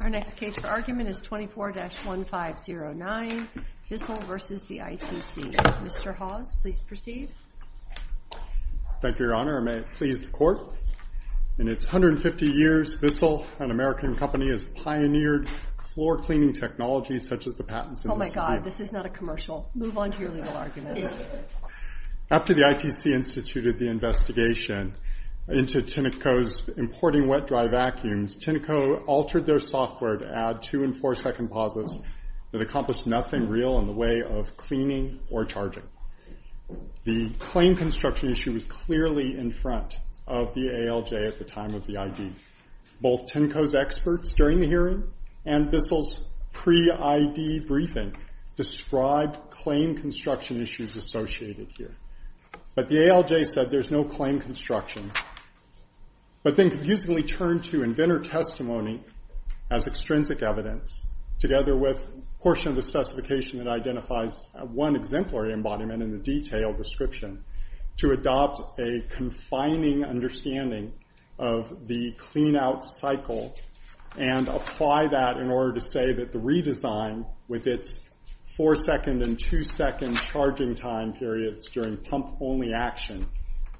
Our next case for argument is 24-1509, BISSELL v. the ITC. Mr. Hawes, please proceed. Thank you, Your Honor. I may please the court. In its 150 years, BISSELL, an American company, has pioneered floor cleaning technology, such as the patents in this case. Oh my god, this is not a commercial. Move on to your legal arguments. After the ITC instituted the investigation into Tinoco's importing wet-dry vacuums, Tinoco altered their software to add two- and four-second positives that accomplished nothing real in the way of cleaning or charging. The claim construction issue was clearly in front of the ALJ at the time of the ID. Both Tinoco's experts during the hearing and BISSELL's pre-ID briefing described claim construction issues associated here. But the ALJ said there's no claim construction. But they confusingly turned to inventor testimony as extrinsic evidence, together with a portion of the specification that identifies one exemplary embodiment in the detailed description, to adopt a confining understanding of the clean-out cycle and apply that in order to say that the redesign, with its four-second and two-second charging time periods during pump-only action,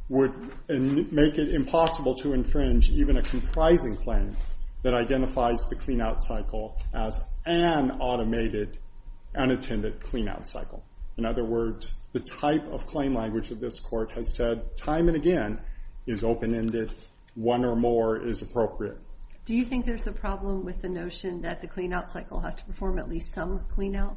would make it impossible to infringe even a comprising claim that identifies the clean-out cycle as an automated, unattended clean-out cycle. In other words, the type of claim language of this court has said, time and again, is open-ended. One or more is appropriate. Do you think there's a problem with the notion that the clean-out cycle has to perform at least some clean-out?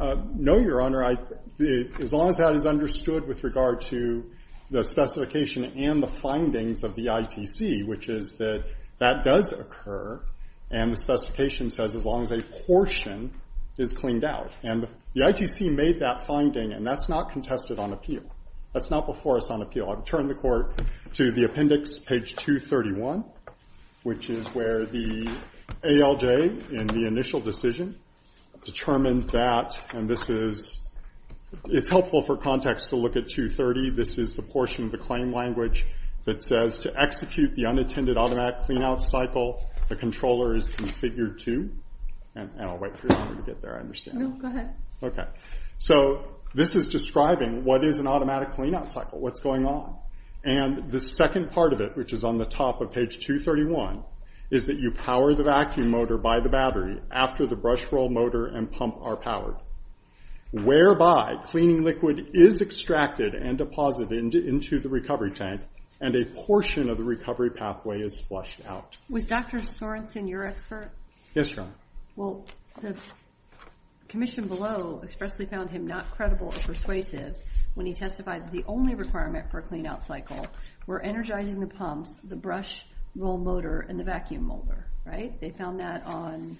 No, Your Honor. As long as that is understood with regard to the specification and the findings of the ITC, which is that that does occur. And the specification says, as long as a portion is cleaned out. And the ITC made that finding. And that's not contested on appeal. That's not before us on appeal. I've turned the court to the appendix, page 231, which is where the ALJ, in the initial decision, determined that, and this is, it's helpful for context to look at 230. This is the portion of the claim language that says, to execute the unattended automatic clean-out cycle, the controller is configured to, and I'll wait for Your Honor to get there. I understand. No, go ahead. OK. So this is describing what is an automatic clean-out cycle. What's going on? And the second part of it, which is on the top of page 231, is that you power the vacuum motor by the battery after the brush roll motor and pump are powered, whereby cleaning liquid is extracted and deposited into the recovery tank, and a portion of the recovery pathway is flushed out. Was Dr. Sorensen your expert? Yes, Your Honor. Well, the commission below expressly found him not credible or persuasive when he testified the only requirement for a clean-out cycle were energizing the pumps, the brush roll motor, and the vacuum motor. They found that on,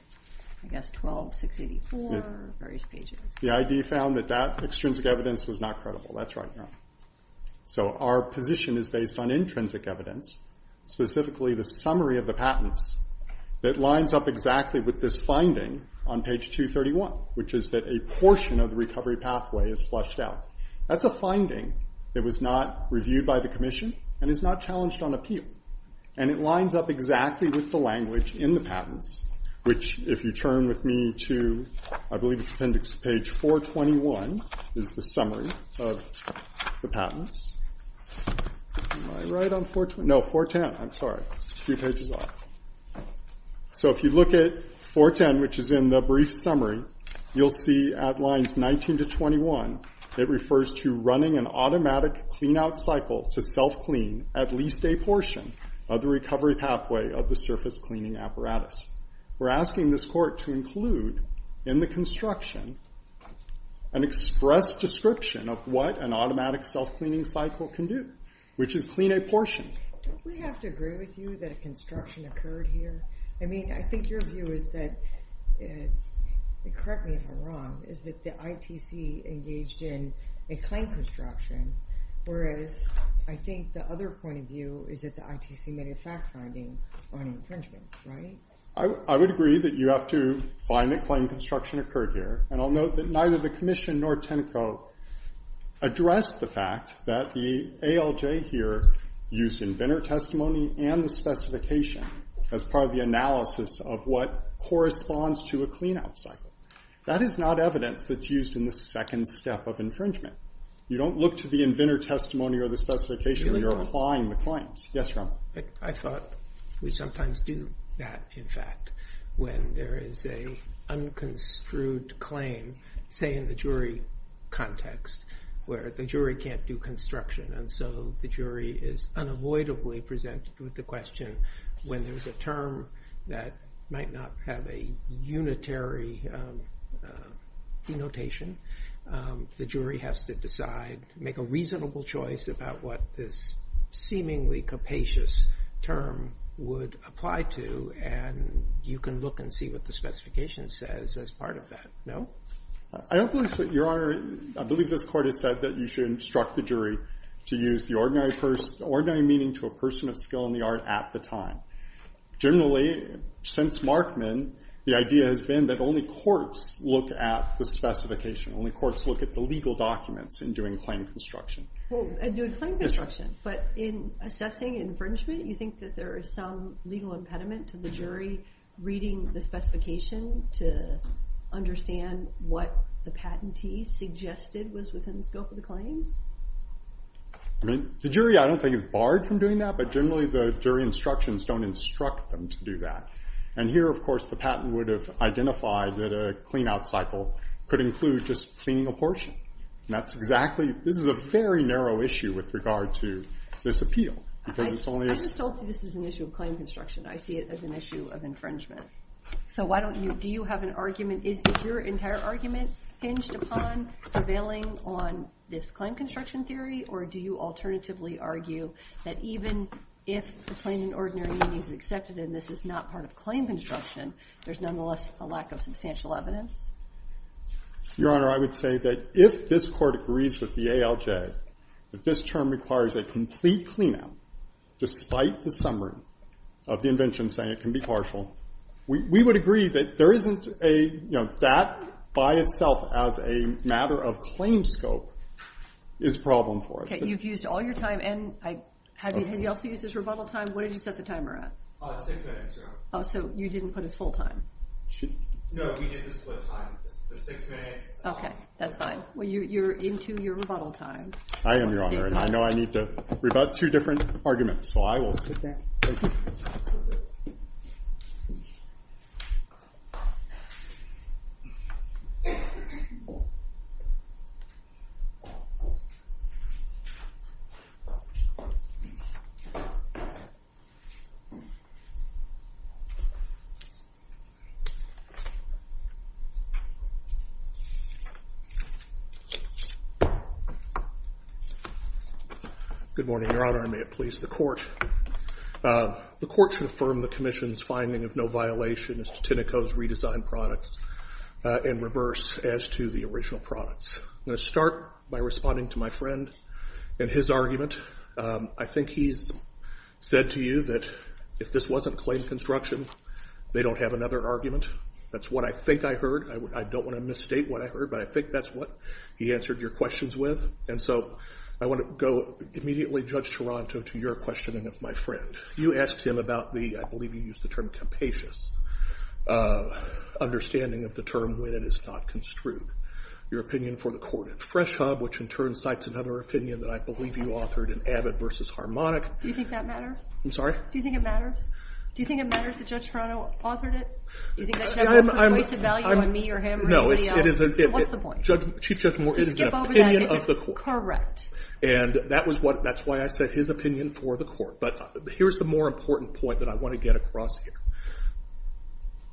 I guess, 12-684, various pages. The ID found that that extrinsic evidence was not credible. That's right, Your Honor. So our position is based on intrinsic evidence, specifically the summary of the patents, that lines up exactly with this finding on page 231, which is that a portion of the recovery pathway is flushed out. That's a finding that was not reviewed by the commission and is not challenged on appeal. And it lines up exactly with the language in the patents, which, if you turn with me to, I believe it's appendix to page 421, is the summary of the patents. Am I right on 420? No, 410. I'm sorry. Two pages off. So if you look at 410, which is in the brief summary, you'll see at lines 19 to 21, it refers to running an automatic clean-out cycle to self-clean at least a portion of the recovery pathway of the surface cleaning apparatus. We're asking this court to include, in the construction, an express description of what an automatic self-cleaning cycle can do, which is clean a portion. Don't we have to agree with you that a construction occurred here? I mean, I think your view is that, correct me if I'm wrong, is that the ITC engaged in a clean construction, whereas I think the other point of view is that the ITC may have fact-finding on infringement, right? I would agree that you have to find that claim construction occurred here. And I'll note that neither the commission nor Tenneco addressed the fact that the ALJ here used inventor testimony and the specification as part of the analysis of what corresponds to a clean-out cycle. That is not evidence that's used in the second step of infringement. You don't look to the inventor testimony or the specification when you're applying the claims. Yes, Your Honor? I thought we sometimes do that, in fact, when there is a unconstrued claim, say in the jury context, where the jury can't do construction. And so the jury is unavoidably presented with the question, when there's a term that might not have a unitary denotation, the jury has to decide, make a reasonable choice about what this seemingly capacious term would apply to. And you can look and see what the specification says as part of that, no? I don't believe so, Your Honor. I believe this court has said that you should instruct the jury to use the ordinary meaning to a person of skill in the art at the time. Generally, since Markman, the idea has been that only courts look at the specification. Only courts look at the legal documents in doing claim construction. Well, in doing claim construction. But in assessing infringement, you think that there is some legal impediment to the jury reading the specification to understand what the patentee suggested was within the scope of the claims? I mean, the jury, I don't think, is barred from doing that. But generally, the jury instructions don't instruct them to do that. And here, of course, the patent would have identified that a clean-out cycle could include just cleaning a portion. And that's exactly, this is a very narrow issue with regard to this appeal. Because it's only a. I just don't see this as an issue of claim construction. I see it as an issue of infringement. So why don't you, do you have an argument, is your entire argument hinged upon prevailing on this claim construction theory? Or do you alternatively argue that even if the plain and ordinary meaning is accepted and this is not part of claim construction, there's nonetheless a lack of substantial evidence? Your Honor, I would say that if this court agrees with the ALJ that this term requires a complete clean-out, despite the summary of the invention saying it can be partial, we would agree that that by itself as a matter of claim scope is a problem for us. You've used all your time. And have you also used his rebuttal time? Where did you set the timer at? Six minutes, Your Honor. So you didn't put his full time? No, we did the split time. The six minutes. OK. That's fine. Well, you're into your rebuttal time. I am, Your Honor. And I know I need to rebut two different arguments. So I will sit there. Good morning, Your Honor. And may it please the court. The court should affirm the commission's finding of no violation as to Tinoco's redesigned products in reverse as to the original products. I'm going to start by responding to my friend and his argument. I think he's said to you that if this wasn't claim construction, they don't have another argument. That's what I think I heard. I don't want to misstate what I heard. But I think that's what he answered your questions with. And so I want to go immediately, Judge Toronto, to your questioning of my friend. You asked him about the, I believe you used the term, capacious understanding of the term when it is not construed. Your opinion for the corded fresh hub, which in turn cites another opinion that I believe you authored in Abbott versus Harmonic. Do you think that matters? I'm sorry? Do you think it matters? Do you think it matters that Judge Toronto authored it? Do you think that should have more persuasive value on me or him or anybody else? So what's the point? Chief Judge Moore, it is an opinion of the court. Correct. And that's why I said his opinion for the court. But here's the more important point that I want to get across here.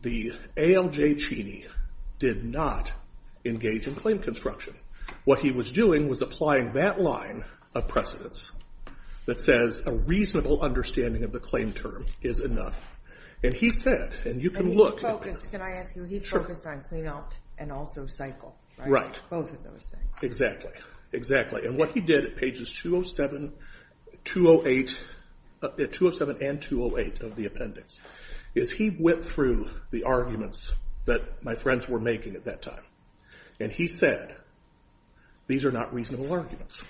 The ALJ Cheney did not engage in claim construction. What he was doing was applying that line of precedence that says a reasonable understanding of the claim term is enough. And he said, and you can look at that. Can I ask you, he focused on clean out and also cycle. Right. Both of those things. Exactly. Exactly. And what he did at pages 207 and 208 of the appendix is he went through the arguments that my friends were making at that time. And he said, these are not reasonable arguments.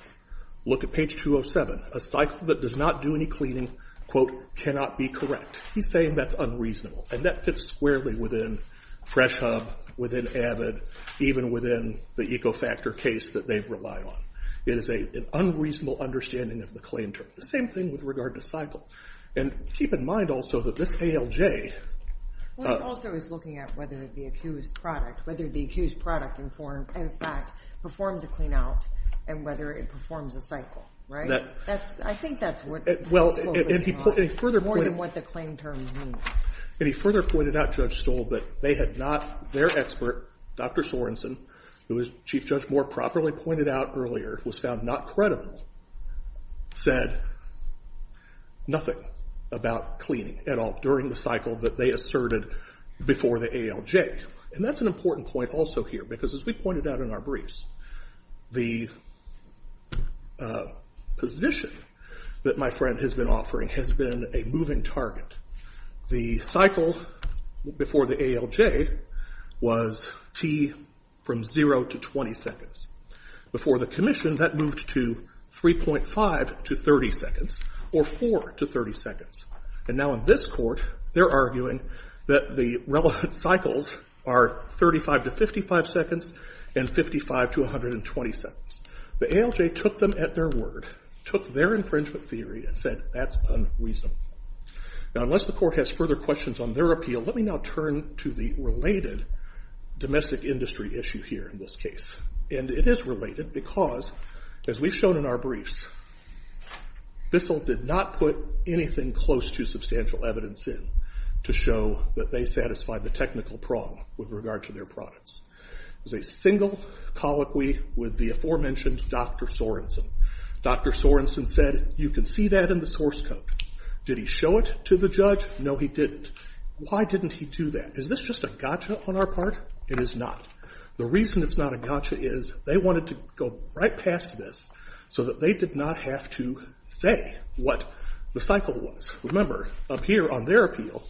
Look at page 207. A cycle that does not do any cleaning, quote, cannot be correct. He's saying that's unreasonable. And that fits squarely within Fresh Hub, within AVID, even within the Ecofactor case that they've relied on. It is an unreasonable understanding of the claim term. The same thing with regard to cycle. And keep in mind also that this ALJ. Well, he also is looking at whether the accused product, whether the accused product, in fact, performs a clean out and whether it performs a cycle. Right? I think that's what he's focusing on. More than what the claim term means. And he further pointed out, Judge Stoll, that they had not, their expert, Dr. Sorenson, who as Chief Judge Moore properly pointed out earlier, was found not credible, said nothing about cleaning at all during the cycle that they asserted before the ALJ. And that's an important point also here. Because as we pointed out in our briefs, the position that my friend has been offering has been a moving target. The cycle before the ALJ was t from 0 to 20 seconds. Before the commission, that moved to 3.5 to 30 seconds, or 4 to 30 seconds. And now in this court, they're arguing that the relevant cycles are 35 to 55 seconds and 55 to 120 seconds. The ALJ took them at their word, took their infringement theory and said, that's unreasonable. Now, unless the court has further questions on their appeal, let me now turn to the related domestic industry issue here in this case. And it is related because, as we've shown in our briefs, Bissell did not put anything close to substantial evidence in to show that they satisfied the technical prong with regard to their products. There's a single colloquy with the aforementioned Dr. Sorenson. Dr. Sorenson said, you can see that in the source code. Did he show it to the judge? No, he didn't. Why didn't he do that? Is this just a gotcha on our part? It is not. The reason it's not a gotcha is they wanted to go right past this so that they did not have to say what the cycle was. Remember, up here on their appeal,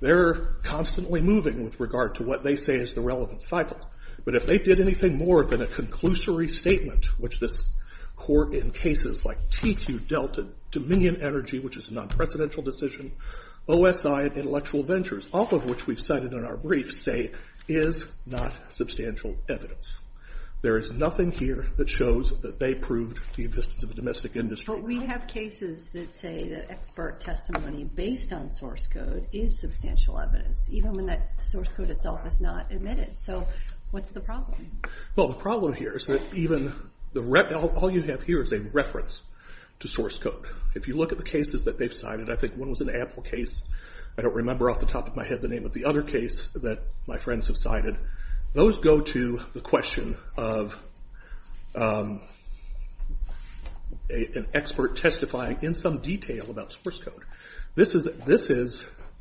they're constantly moving with regard to what they say is the relevant cycle. But if they did anything more than a conclusory statement, which this court, in cases like T2 Delta, Dominion Energy, which is a non-presidential decision, OSI, Intellectual Ventures, all of which we've cited in our briefs, say is not substantial evidence. There is nothing here that shows that they proved the existence of the domestic industry. But we have cases that say that expert testimony based on source code is substantial evidence, even when that source code itself is not admitted. So what's the problem? Well, the problem here is that all you have here is a reference to source code. If you look at the cases that they've cited, I think one was an Apple case. I don't remember off the top of my head the name of the other case that my friends have cited. Those go to the question of an expert testifying in some detail about source code. This is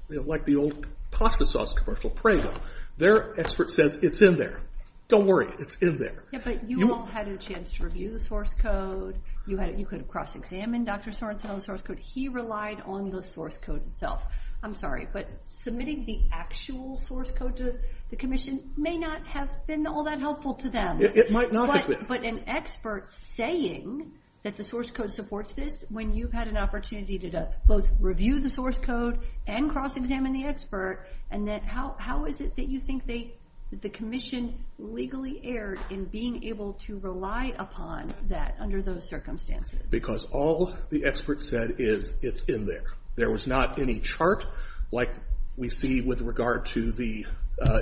like the old pasta sauce commercial, Prego. Their expert says, it's in there. Don't worry, it's in there. But you all had a chance to review the source code. You could have cross-examined Dr. Sorenson on the source code. He relied on the source code itself. I'm sorry, but submitting the actual source code to the commission may not have been all that helpful to them. It might not have been. But an expert saying that the source code supports this when you've had an opportunity to both review the source code and cross-examine the expert. And how is it that you think the commission legally erred in being able to rely upon that under those circumstances? Because all the expert said is, it's in there. There was not any chart like we see with regard to the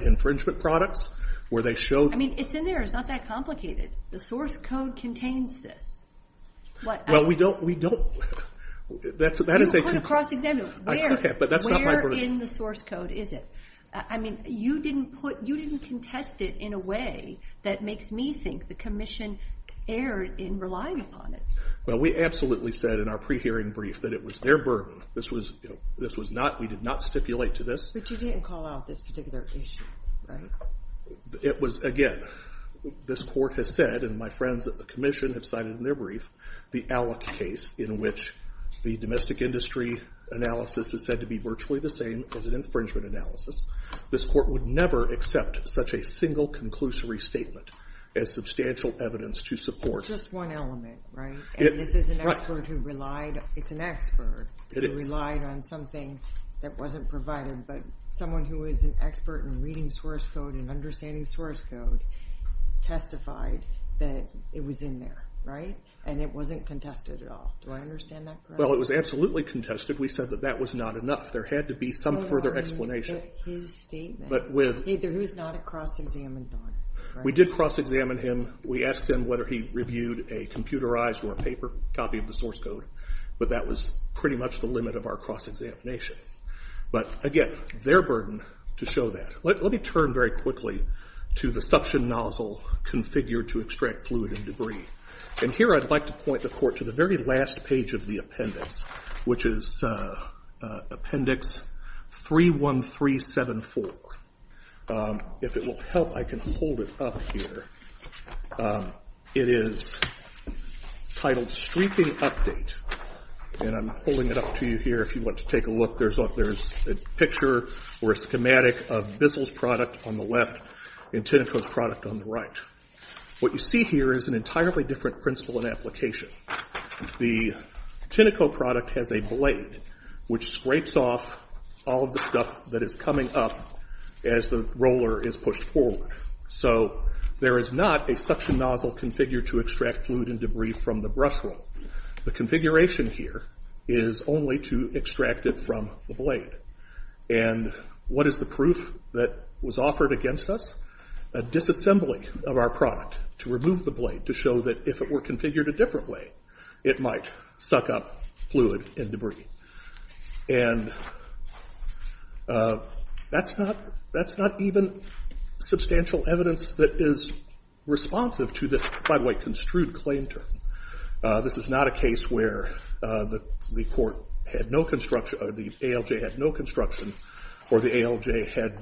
infringement products, where they show. I mean, it's in there. It's not that complicated. The source code contains this. Well, we don't. We don't. That is a key point. You put a cross-examination. Where in the source code is it? I mean, you didn't contest it in a way that makes me think the commission erred in relying upon it. Well, we absolutely said in our pre-hearing brief that it was their burden. This was not. We did not stipulate to this. But you didn't call out this particular issue, right? It was, again, this court has said, and my friends at the commission have cited in their brief, the Allick case, in which the domestic industry analysis is said to be virtually the same as an infringement analysis. This court would never accept such a single conclusory statement as substantial evidence to support. It's just one element, right? And this is an expert who relied. It's an expert who relied on something that wasn't provided. But someone who is an expert in reading source code and understanding source code testified that it was in there, right? And it wasn't contested at all. Do I understand that correctly? Well, it was absolutely contested. We said that that was not enough. There had to be some further explanation. But I mean, with his statement. But with. He was not a cross-examined lawyer, right? We did cross-examine him. We asked him whether he reviewed a computerized or a paper copy of the source code. But that was pretty much the limit of our cross-examination. But again, their burden to show that. Let me turn very quickly to the suction nozzle configured to extract fluid and debris. And here I'd like to point the court to the very last page of the appendix, which is appendix 31374. If it will help, I can hold it up here. It is titled Streaking Update. And I'm holding it up to you here if you want to take a look. There's a picture or a schematic of Bissell's product on the left and Tineco's product on the right. What you see here is an entirely different principle and application. The Tineco product has a blade, which scrapes off all of the stuff that is coming up as the roller is pushed forward. So there is not a suction nozzle configured to extract fluid and debris from the brush roll. The configuration here is only to extract it from the blade. And what is the proof that was offered against us? A disassembly of our product to remove the blade to show that if it were configured a different way, it might suck up fluid and debris. And that's not even substantial evidence that is responsive to this, by the way, construed claim term. This is not a case where the ALJ had no construction or the ALJ had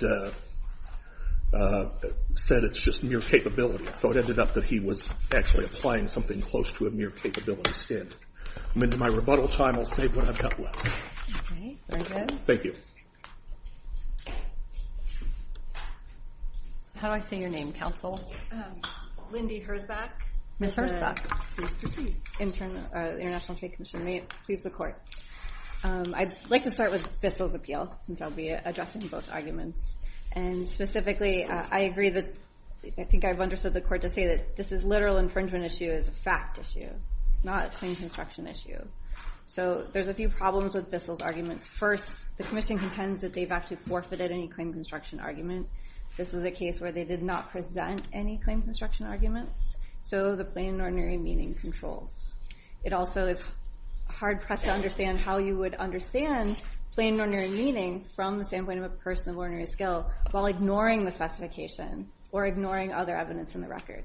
said it's just mere capability. So it ended up that he was actually applying something close to a mere capability standard. And in my rebuttal time, I'll save what I've got left. OK. Very good. Thank you. How do I say your name, counsel? Lindy Herzbach. Ms. Herzbach. Please proceed. International Trade Commission. May it please the court. I'd like to start with Bissell's appeal, since I'll be addressing both arguments. And specifically, I agree that I think I've understood the court to say that this is a literal infringement issue. It's a fact issue. It's not a claim construction issue. So there's a few problems with Bissell's arguments. First, the commission contends that they've actually forfeited any claim construction argument. This was a case where they did not present any claim construction arguments. So the plain and ordinary meaning controls. It also is hard-pressed to understand how you would understand plain and ordinary meaning from the standpoint of a person of ordinary skill while ignoring the specification or ignoring other evidence in the record.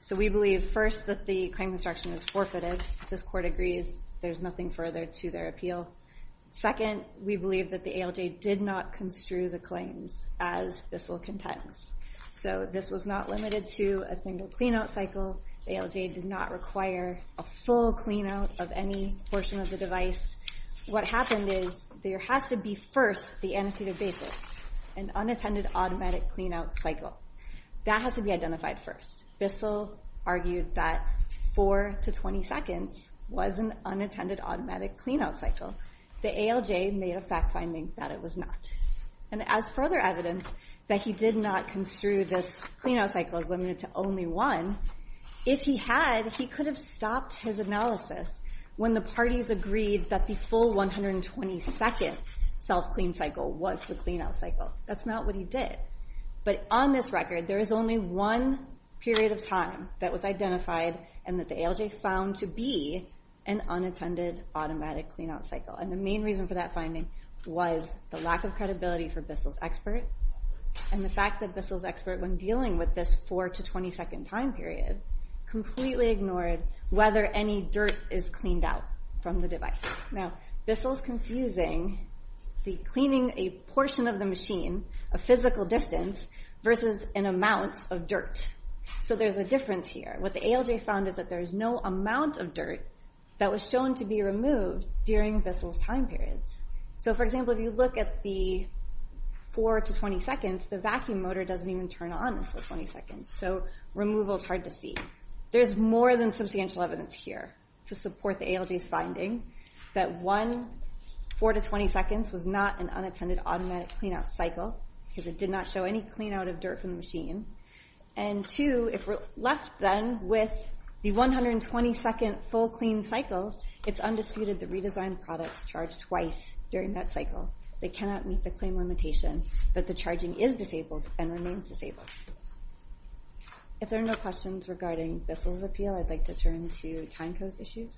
So we believe, first, that the claim construction is forfeited. This court agrees. There's nothing further to their appeal. Second, we believe that the ALJ did not construe the claims as Bissell contends. So this was not limited to a single clean-out cycle. The ALJ did not require a full clean-out of any portion of the device. What happened is there has to be, first, the antecedent basis, an unattended automatic clean-out cycle. That has to be identified first. Bissell argued that four to 20 seconds was an unattended automatic clean-out cycle. The ALJ made a fact finding that it was not. And as further evidence that he did not construe this clean-out cycle as limited to only one, if he had, he could have stopped his analysis when the parties agreed that the full 120-second self-clean cycle was the clean-out cycle. That's not what he did. But on this record, there is only one period of time that was identified and that the ALJ found to be an unattended automatic clean-out cycle. And the main reason for that finding was the lack of credibility for Bissell's expert and the fact that Bissell's expert, when dealing with this four to 20-second time period, completely ignored whether any dirt is cleaned out from the device. Now, Bissell's confusing the cleaning a portion of the machine, a physical distance, versus an amount of dirt. So there's a difference here. What the ALJ found is that there is no amount of dirt that was shown to be removed during Bissell's time periods. So for example, if you look at the four to 20 seconds, the vacuum motor doesn't even turn on in those 20 seconds. So removal's hard to see. There's more than substantial evidence here to support the ALJ's finding that one, four to 20 seconds was not an unattended automatic clean-out cycle, because it did not show any clean-out of dirt from the machine. And two, if we're left then with the 120-second full clean cycle, it's undisputed that redesigned products charge twice during that cycle. They cannot meet the claim limitation, but the charging is disabled and remains disabled. If there are no questions regarding Bissell's appeal, I'd like to turn to Tyneco's issues.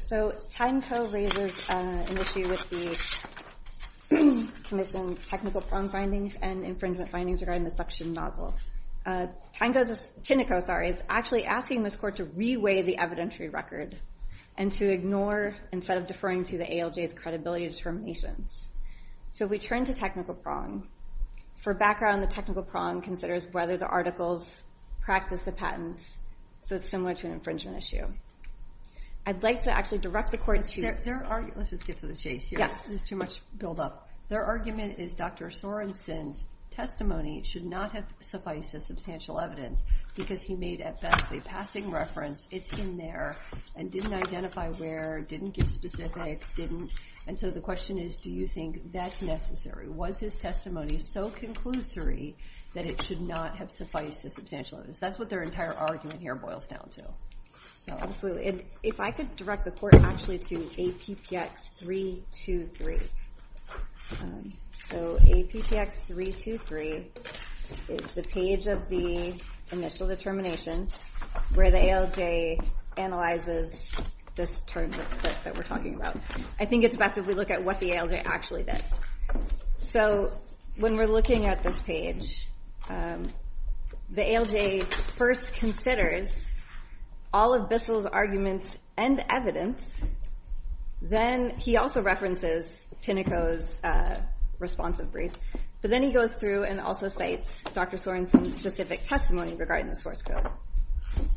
So Tyneco raises an issue with the commission's technical prong findings and infringement findings regarding the suction nozzle. Tyneco's, Tyneco, sorry, is actually asking this court to re-weigh the evidentiary record and to ignore, instead of deferring to the ALJ's credibility determinations. So we turn to technical prong. For background, the technical prong considers whether the articles practice the patents. So it's similar to an infringement issue. I'd like to actually direct the court to. Let's just get to the chase here. There's too much build-up. Their argument is Dr. Sorensen's testimony should not have sufficed as substantial evidence, because he made, at best, a passing reference. It's in there, and didn't identify where, didn't give specifics, didn't. And so the question is, do you think that's necessary? Was his testimony so conclusory that it should not have sufficed as substantial evidence? That's what their entire argument here boils down to. So if I could direct the court, actually, to APPX 323. So APPX 323 is the page of the initial determination where the ALJ analyzes this term that we're talking about. I think it's best if we look at what the ALJ actually did. So when we're looking at this page, the ALJ first considers all of Bissell's arguments and evidence. Then he also references Tinoco's responsive brief. But then he goes through and also cites Dr. Sorensen's specific testimony regarding the source code.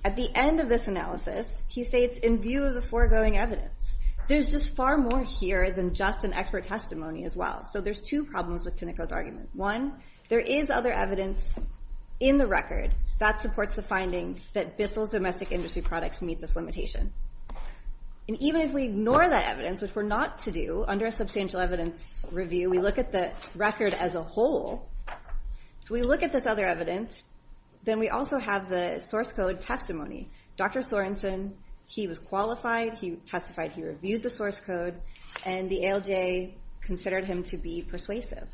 At the end of this analysis, he states, in view of the foregoing evidence, there's just far more here than just an expert testimony as well. So there's two problems with Tinoco's argument. One, there is other evidence in the record that supports the finding that Bissell's domestic industry products meet this limitation. And even if we ignore that evidence, which we're not to do under a substantial evidence review, we look at the record as a whole. So we look at this other evidence. Then we also have the source code testimony. Dr. Sorensen, he was qualified. He testified. He reviewed the source code. And the ALJ considered him to be persuasive.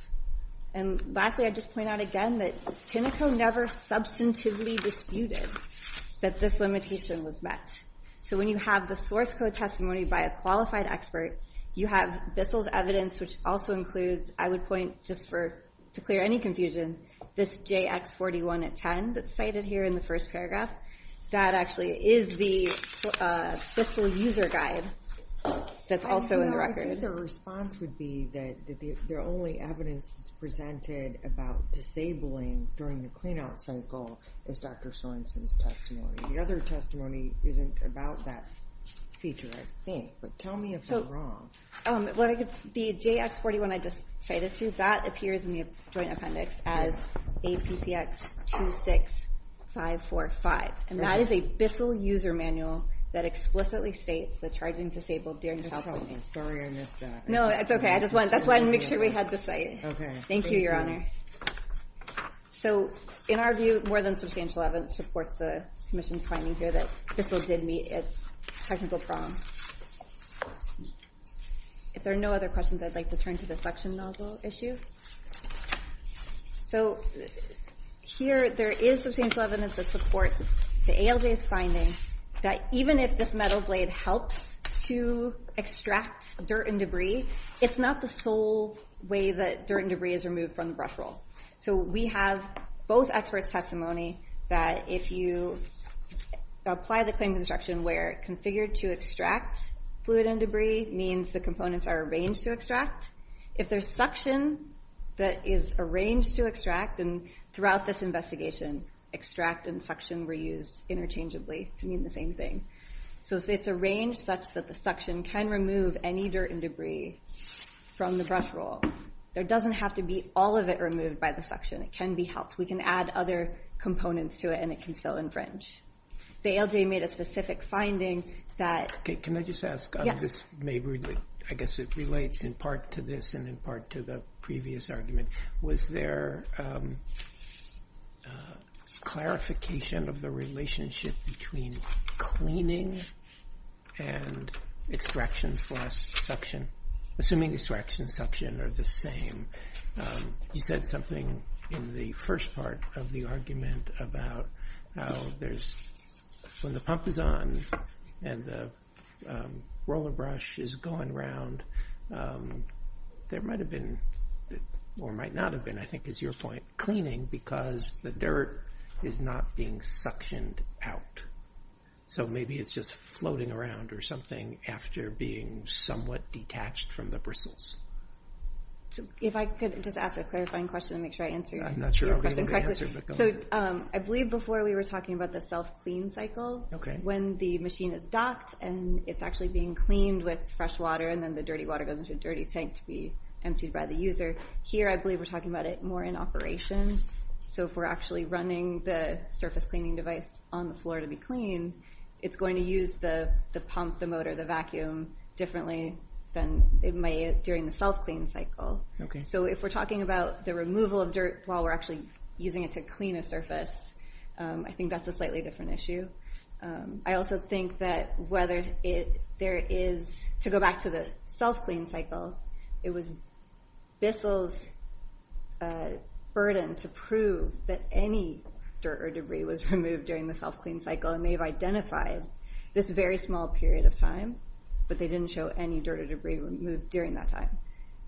And lastly, I'd just point out again that Tinoco never substantively disputed that this limitation was met. So when you have the source code testimony by a qualified expert, you have Bissell's evidence, which also includes, I would point just for to clear any confusion, this JX41 at 10 that's cited here in the first paragraph. That actually is the Bissell user guide that's also in the record. I think the response would be that the only evidence that's presented about disabling during the clean-out cycle is Dr. Sorensen's testimony. The other testimony isn't about that feature, I think. But tell me if I'm wrong. The JX41 I just cited to you, that appears in the joint appendix as APPX 26545. And that is a Bissell user manual that explicitly states the charging disabled during the cycle. Sorry, I missed that. No, it's OK. I just wanted to make sure we had the site. Thank you, Your Honor. So in our view, more than substantial evidence supports the commission's finding here that Bissell did meet its technical problems. If there are no other questions, I'd like to turn to the suction nozzle issue. So here, there is substantial evidence that supports the ALJ's finding that even if this metal blade helps to extract dirt and debris, it's not the sole way that dirt and debris is removed from the brush roll. So we have both experts' testimony that if you apply the claim to the section where it configured to extract fluid and debris means the components are arranged to extract. If there's suction that is arranged to extract, then throughout this investigation, extract and suction were used interchangeably to mean the same thing. So if it's arranged such that the suction can remove any dirt and debris from the brush roll, there doesn't have to be all of it removed by the suction. It can be helped. We can add other components to it, and it can still infringe. The ALJ made a specific finding that Can I just ask on this? I guess it relates in part to this and in part to the previous argument. Was there clarification of the relationship between cleaning and extraction slash suction? Assuming extraction and suction are the same, you said something in the first part of the argument about how when the pump is on and the roller brush is going around, there might have been or might not have been, I think is your point, cleaning because the dirt is not being suctioned out. So maybe it's just floating around or something after being somewhat detached from the bristles. So if I could just ask a clarifying question and make sure I answer your question correctly. I'm not sure I'm getting the answer, but go ahead. I believe before we were talking about the self-clean cycle, when the machine is docked and it's actually being cleaned with fresh water, and then the dirty water goes into a dirty tank to be emptied by the user. Here, I believe we're talking about it more in operation. So if we're actually running the surface cleaning device on the floor to be clean, it's going to use the pump, the motor, the vacuum differently than it may during the self-clean cycle. So if we're talking about the removal of dirt while we're actually using it to clean a surface, I think that's a slightly different issue. I also think that whether there is, to go back to the self-clean cycle, it was Bissell's burden to prove that any dirt or debris was removed during the self-clean cycle. And they've identified this very small period of time, but they didn't show any dirt or debris removed during that time.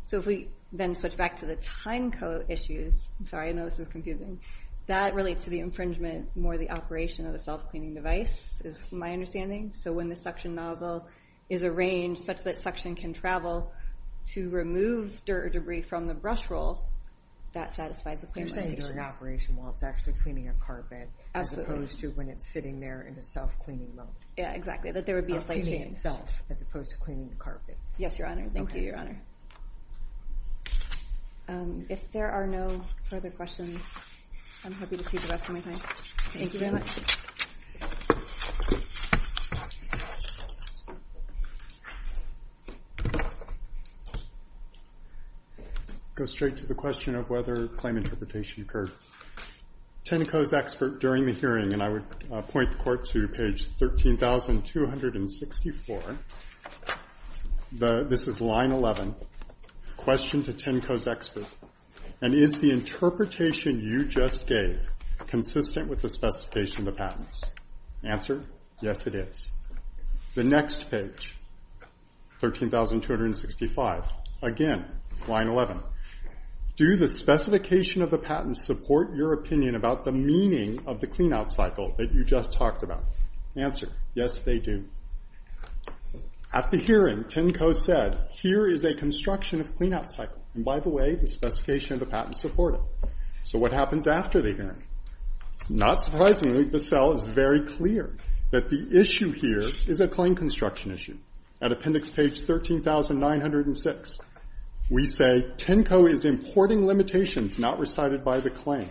So if we then switch back to the time code issues, I'm sorry, I know this is confusing, that relates to the infringement more the operation of the self-cleaning device, is my understanding. So when the suction nozzle is arranged such that suction can travel to remove dirt or debris from the brush roll, that satisfies the plan. You're saying during operation while it's actually cleaning a carpet, as opposed to when it's sitting there in a self-cleaning mode. Exactly, that there would be a slight change. Of cleaning itself, as opposed to cleaning the carpet. Yes, Your Honor. Thank you, Your Honor. If there are no further questions, I'm happy to see the rest of my time. Thank you very much. Go straight to the question of whether claim interpretation occurred. Tenneco's expert during the hearing, and I would point the court to page 13,264. This is line 11. Question to Tenneco's expert. And is the interpretation you just gave consistent with the specification of the patents? Answer, yes it is. The next page, 13,265. Again, line 11. Do the specification of the patents support your opinion about the meaning of the clean-out cycle that you just talked about? Answer, yes they do. At the hearing, Tenneco said, here is a construction of clean-out cycle. And by the way, the specification of the patents support it. So what happens after the hearing? Not surprisingly, Bissell is very clear that the issue here is a claim construction issue. At appendix page 13,906, we say Tenneco is importing limitations not recited by the claim.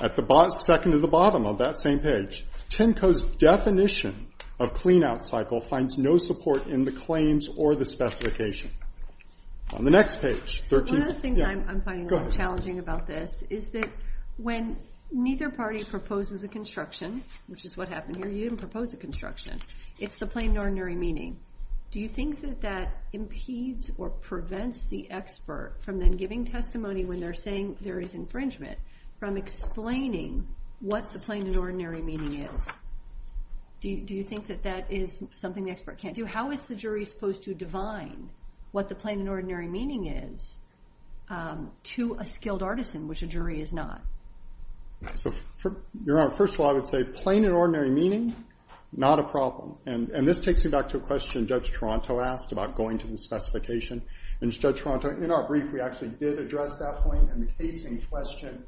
At the second to the bottom of that same page, Tenneco's definition of clean-out cycle finds no support in the claims or the specification. On the next page, 13. One of the things I'm finding a little challenging about this is that when neither party proposes a construction, which is what happened here, you didn't propose a construction. It's the plain, ordinary meaning. Do you think that that impedes or prevents the expert from then giving testimony when they're saying there is infringement from explaining what the plain and ordinary meaning is? Do you think that that is something the expert can't do? How is the jury supposed to divine what the plain and ordinary meaning is to a skilled artisan, which a jury is not? So Your Honor, first of all, I would say plain and ordinary meaning, not a problem. And this takes me back to a question Judge Toronto asked about going to the specification. And Judge Toronto, in our brief, we actually did address that point in the casing question.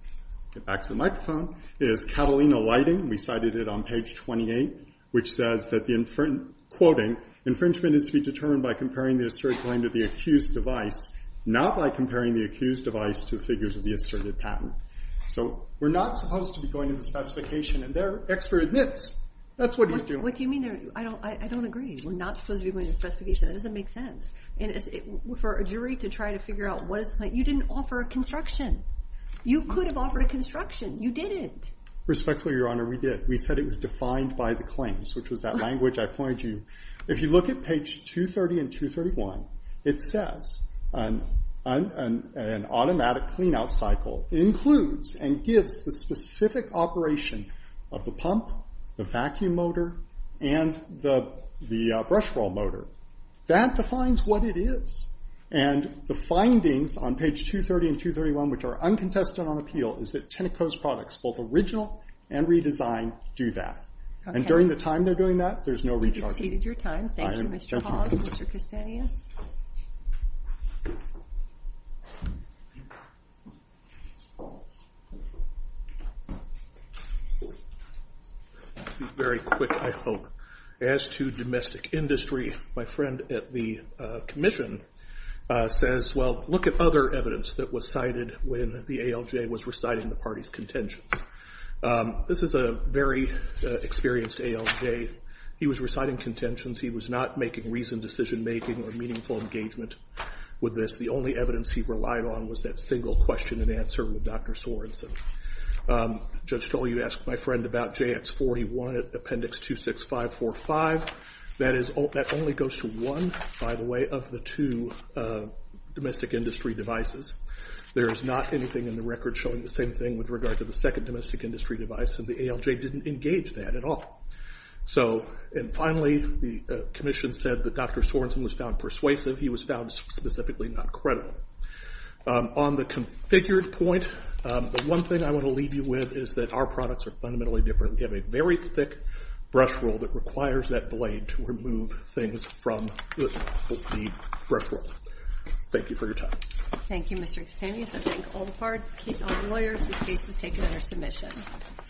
Get back to the microphone. It is Catalina Lighting. We cited it on page 28, which says that the, quoting, infringement is to be determined by comparing the asserted claim to the accused device, not by comparing the accused device to figures of the asserted patent. So we're not supposed to be going to the specification. And their expert admits that's what he's doing. What do you mean? I don't agree. We're not supposed to be going to the specification. That doesn't make sense. For a jury to try to figure out what is what, you didn't offer a construction. You could have offered a construction. You didn't. Respectfully, Your Honor, we did. We said it was defined by the claims, which was that language I pointed to. If you look at page 230 and 231, it says an automatic clean-out cycle includes and gives the specific operation of the pump, the vacuum motor, and the brush roll motor. That defines what it is. And the findings on page 230 and 231, which are uncontested on appeal, is that Tenneco's products, both original and redesigned, do that. And during the time they're doing that, there's no recharging. We've exceeded your time. Thank you, Mr. Hall and Mr. Kastanis. Very quick, I hope. As to domestic industry, my friend at the commission says, well, look at other evidence that was cited when the ALJ was reciting the party's contentions. This is a very experienced ALJ. He was reciting contentions. He was not making reasoned decision-making or meaningful engagement with this. The only evidence he relied on was that single question and answer with Dr. Sorensen. Judge Stoll, you asked my friend about JX41 appendix 26545. That only goes to one, by the way, of the two domestic industry devices. There is not anything in the record showing the same thing with regard to the second domestic industry device, and the ALJ didn't engage that at all. And finally, the commission said that Dr. Sorensen was found persuasive. He was found specifically not credible. On the configured point, the one thing I want to leave you with is that our products are fundamentally different. We have a very thick brush rule that requires that blade to remove things from the brush rule. Thank you for your time. Thank you, Mr. Extaneous. I thank all the lawyers whose cases taken under submission.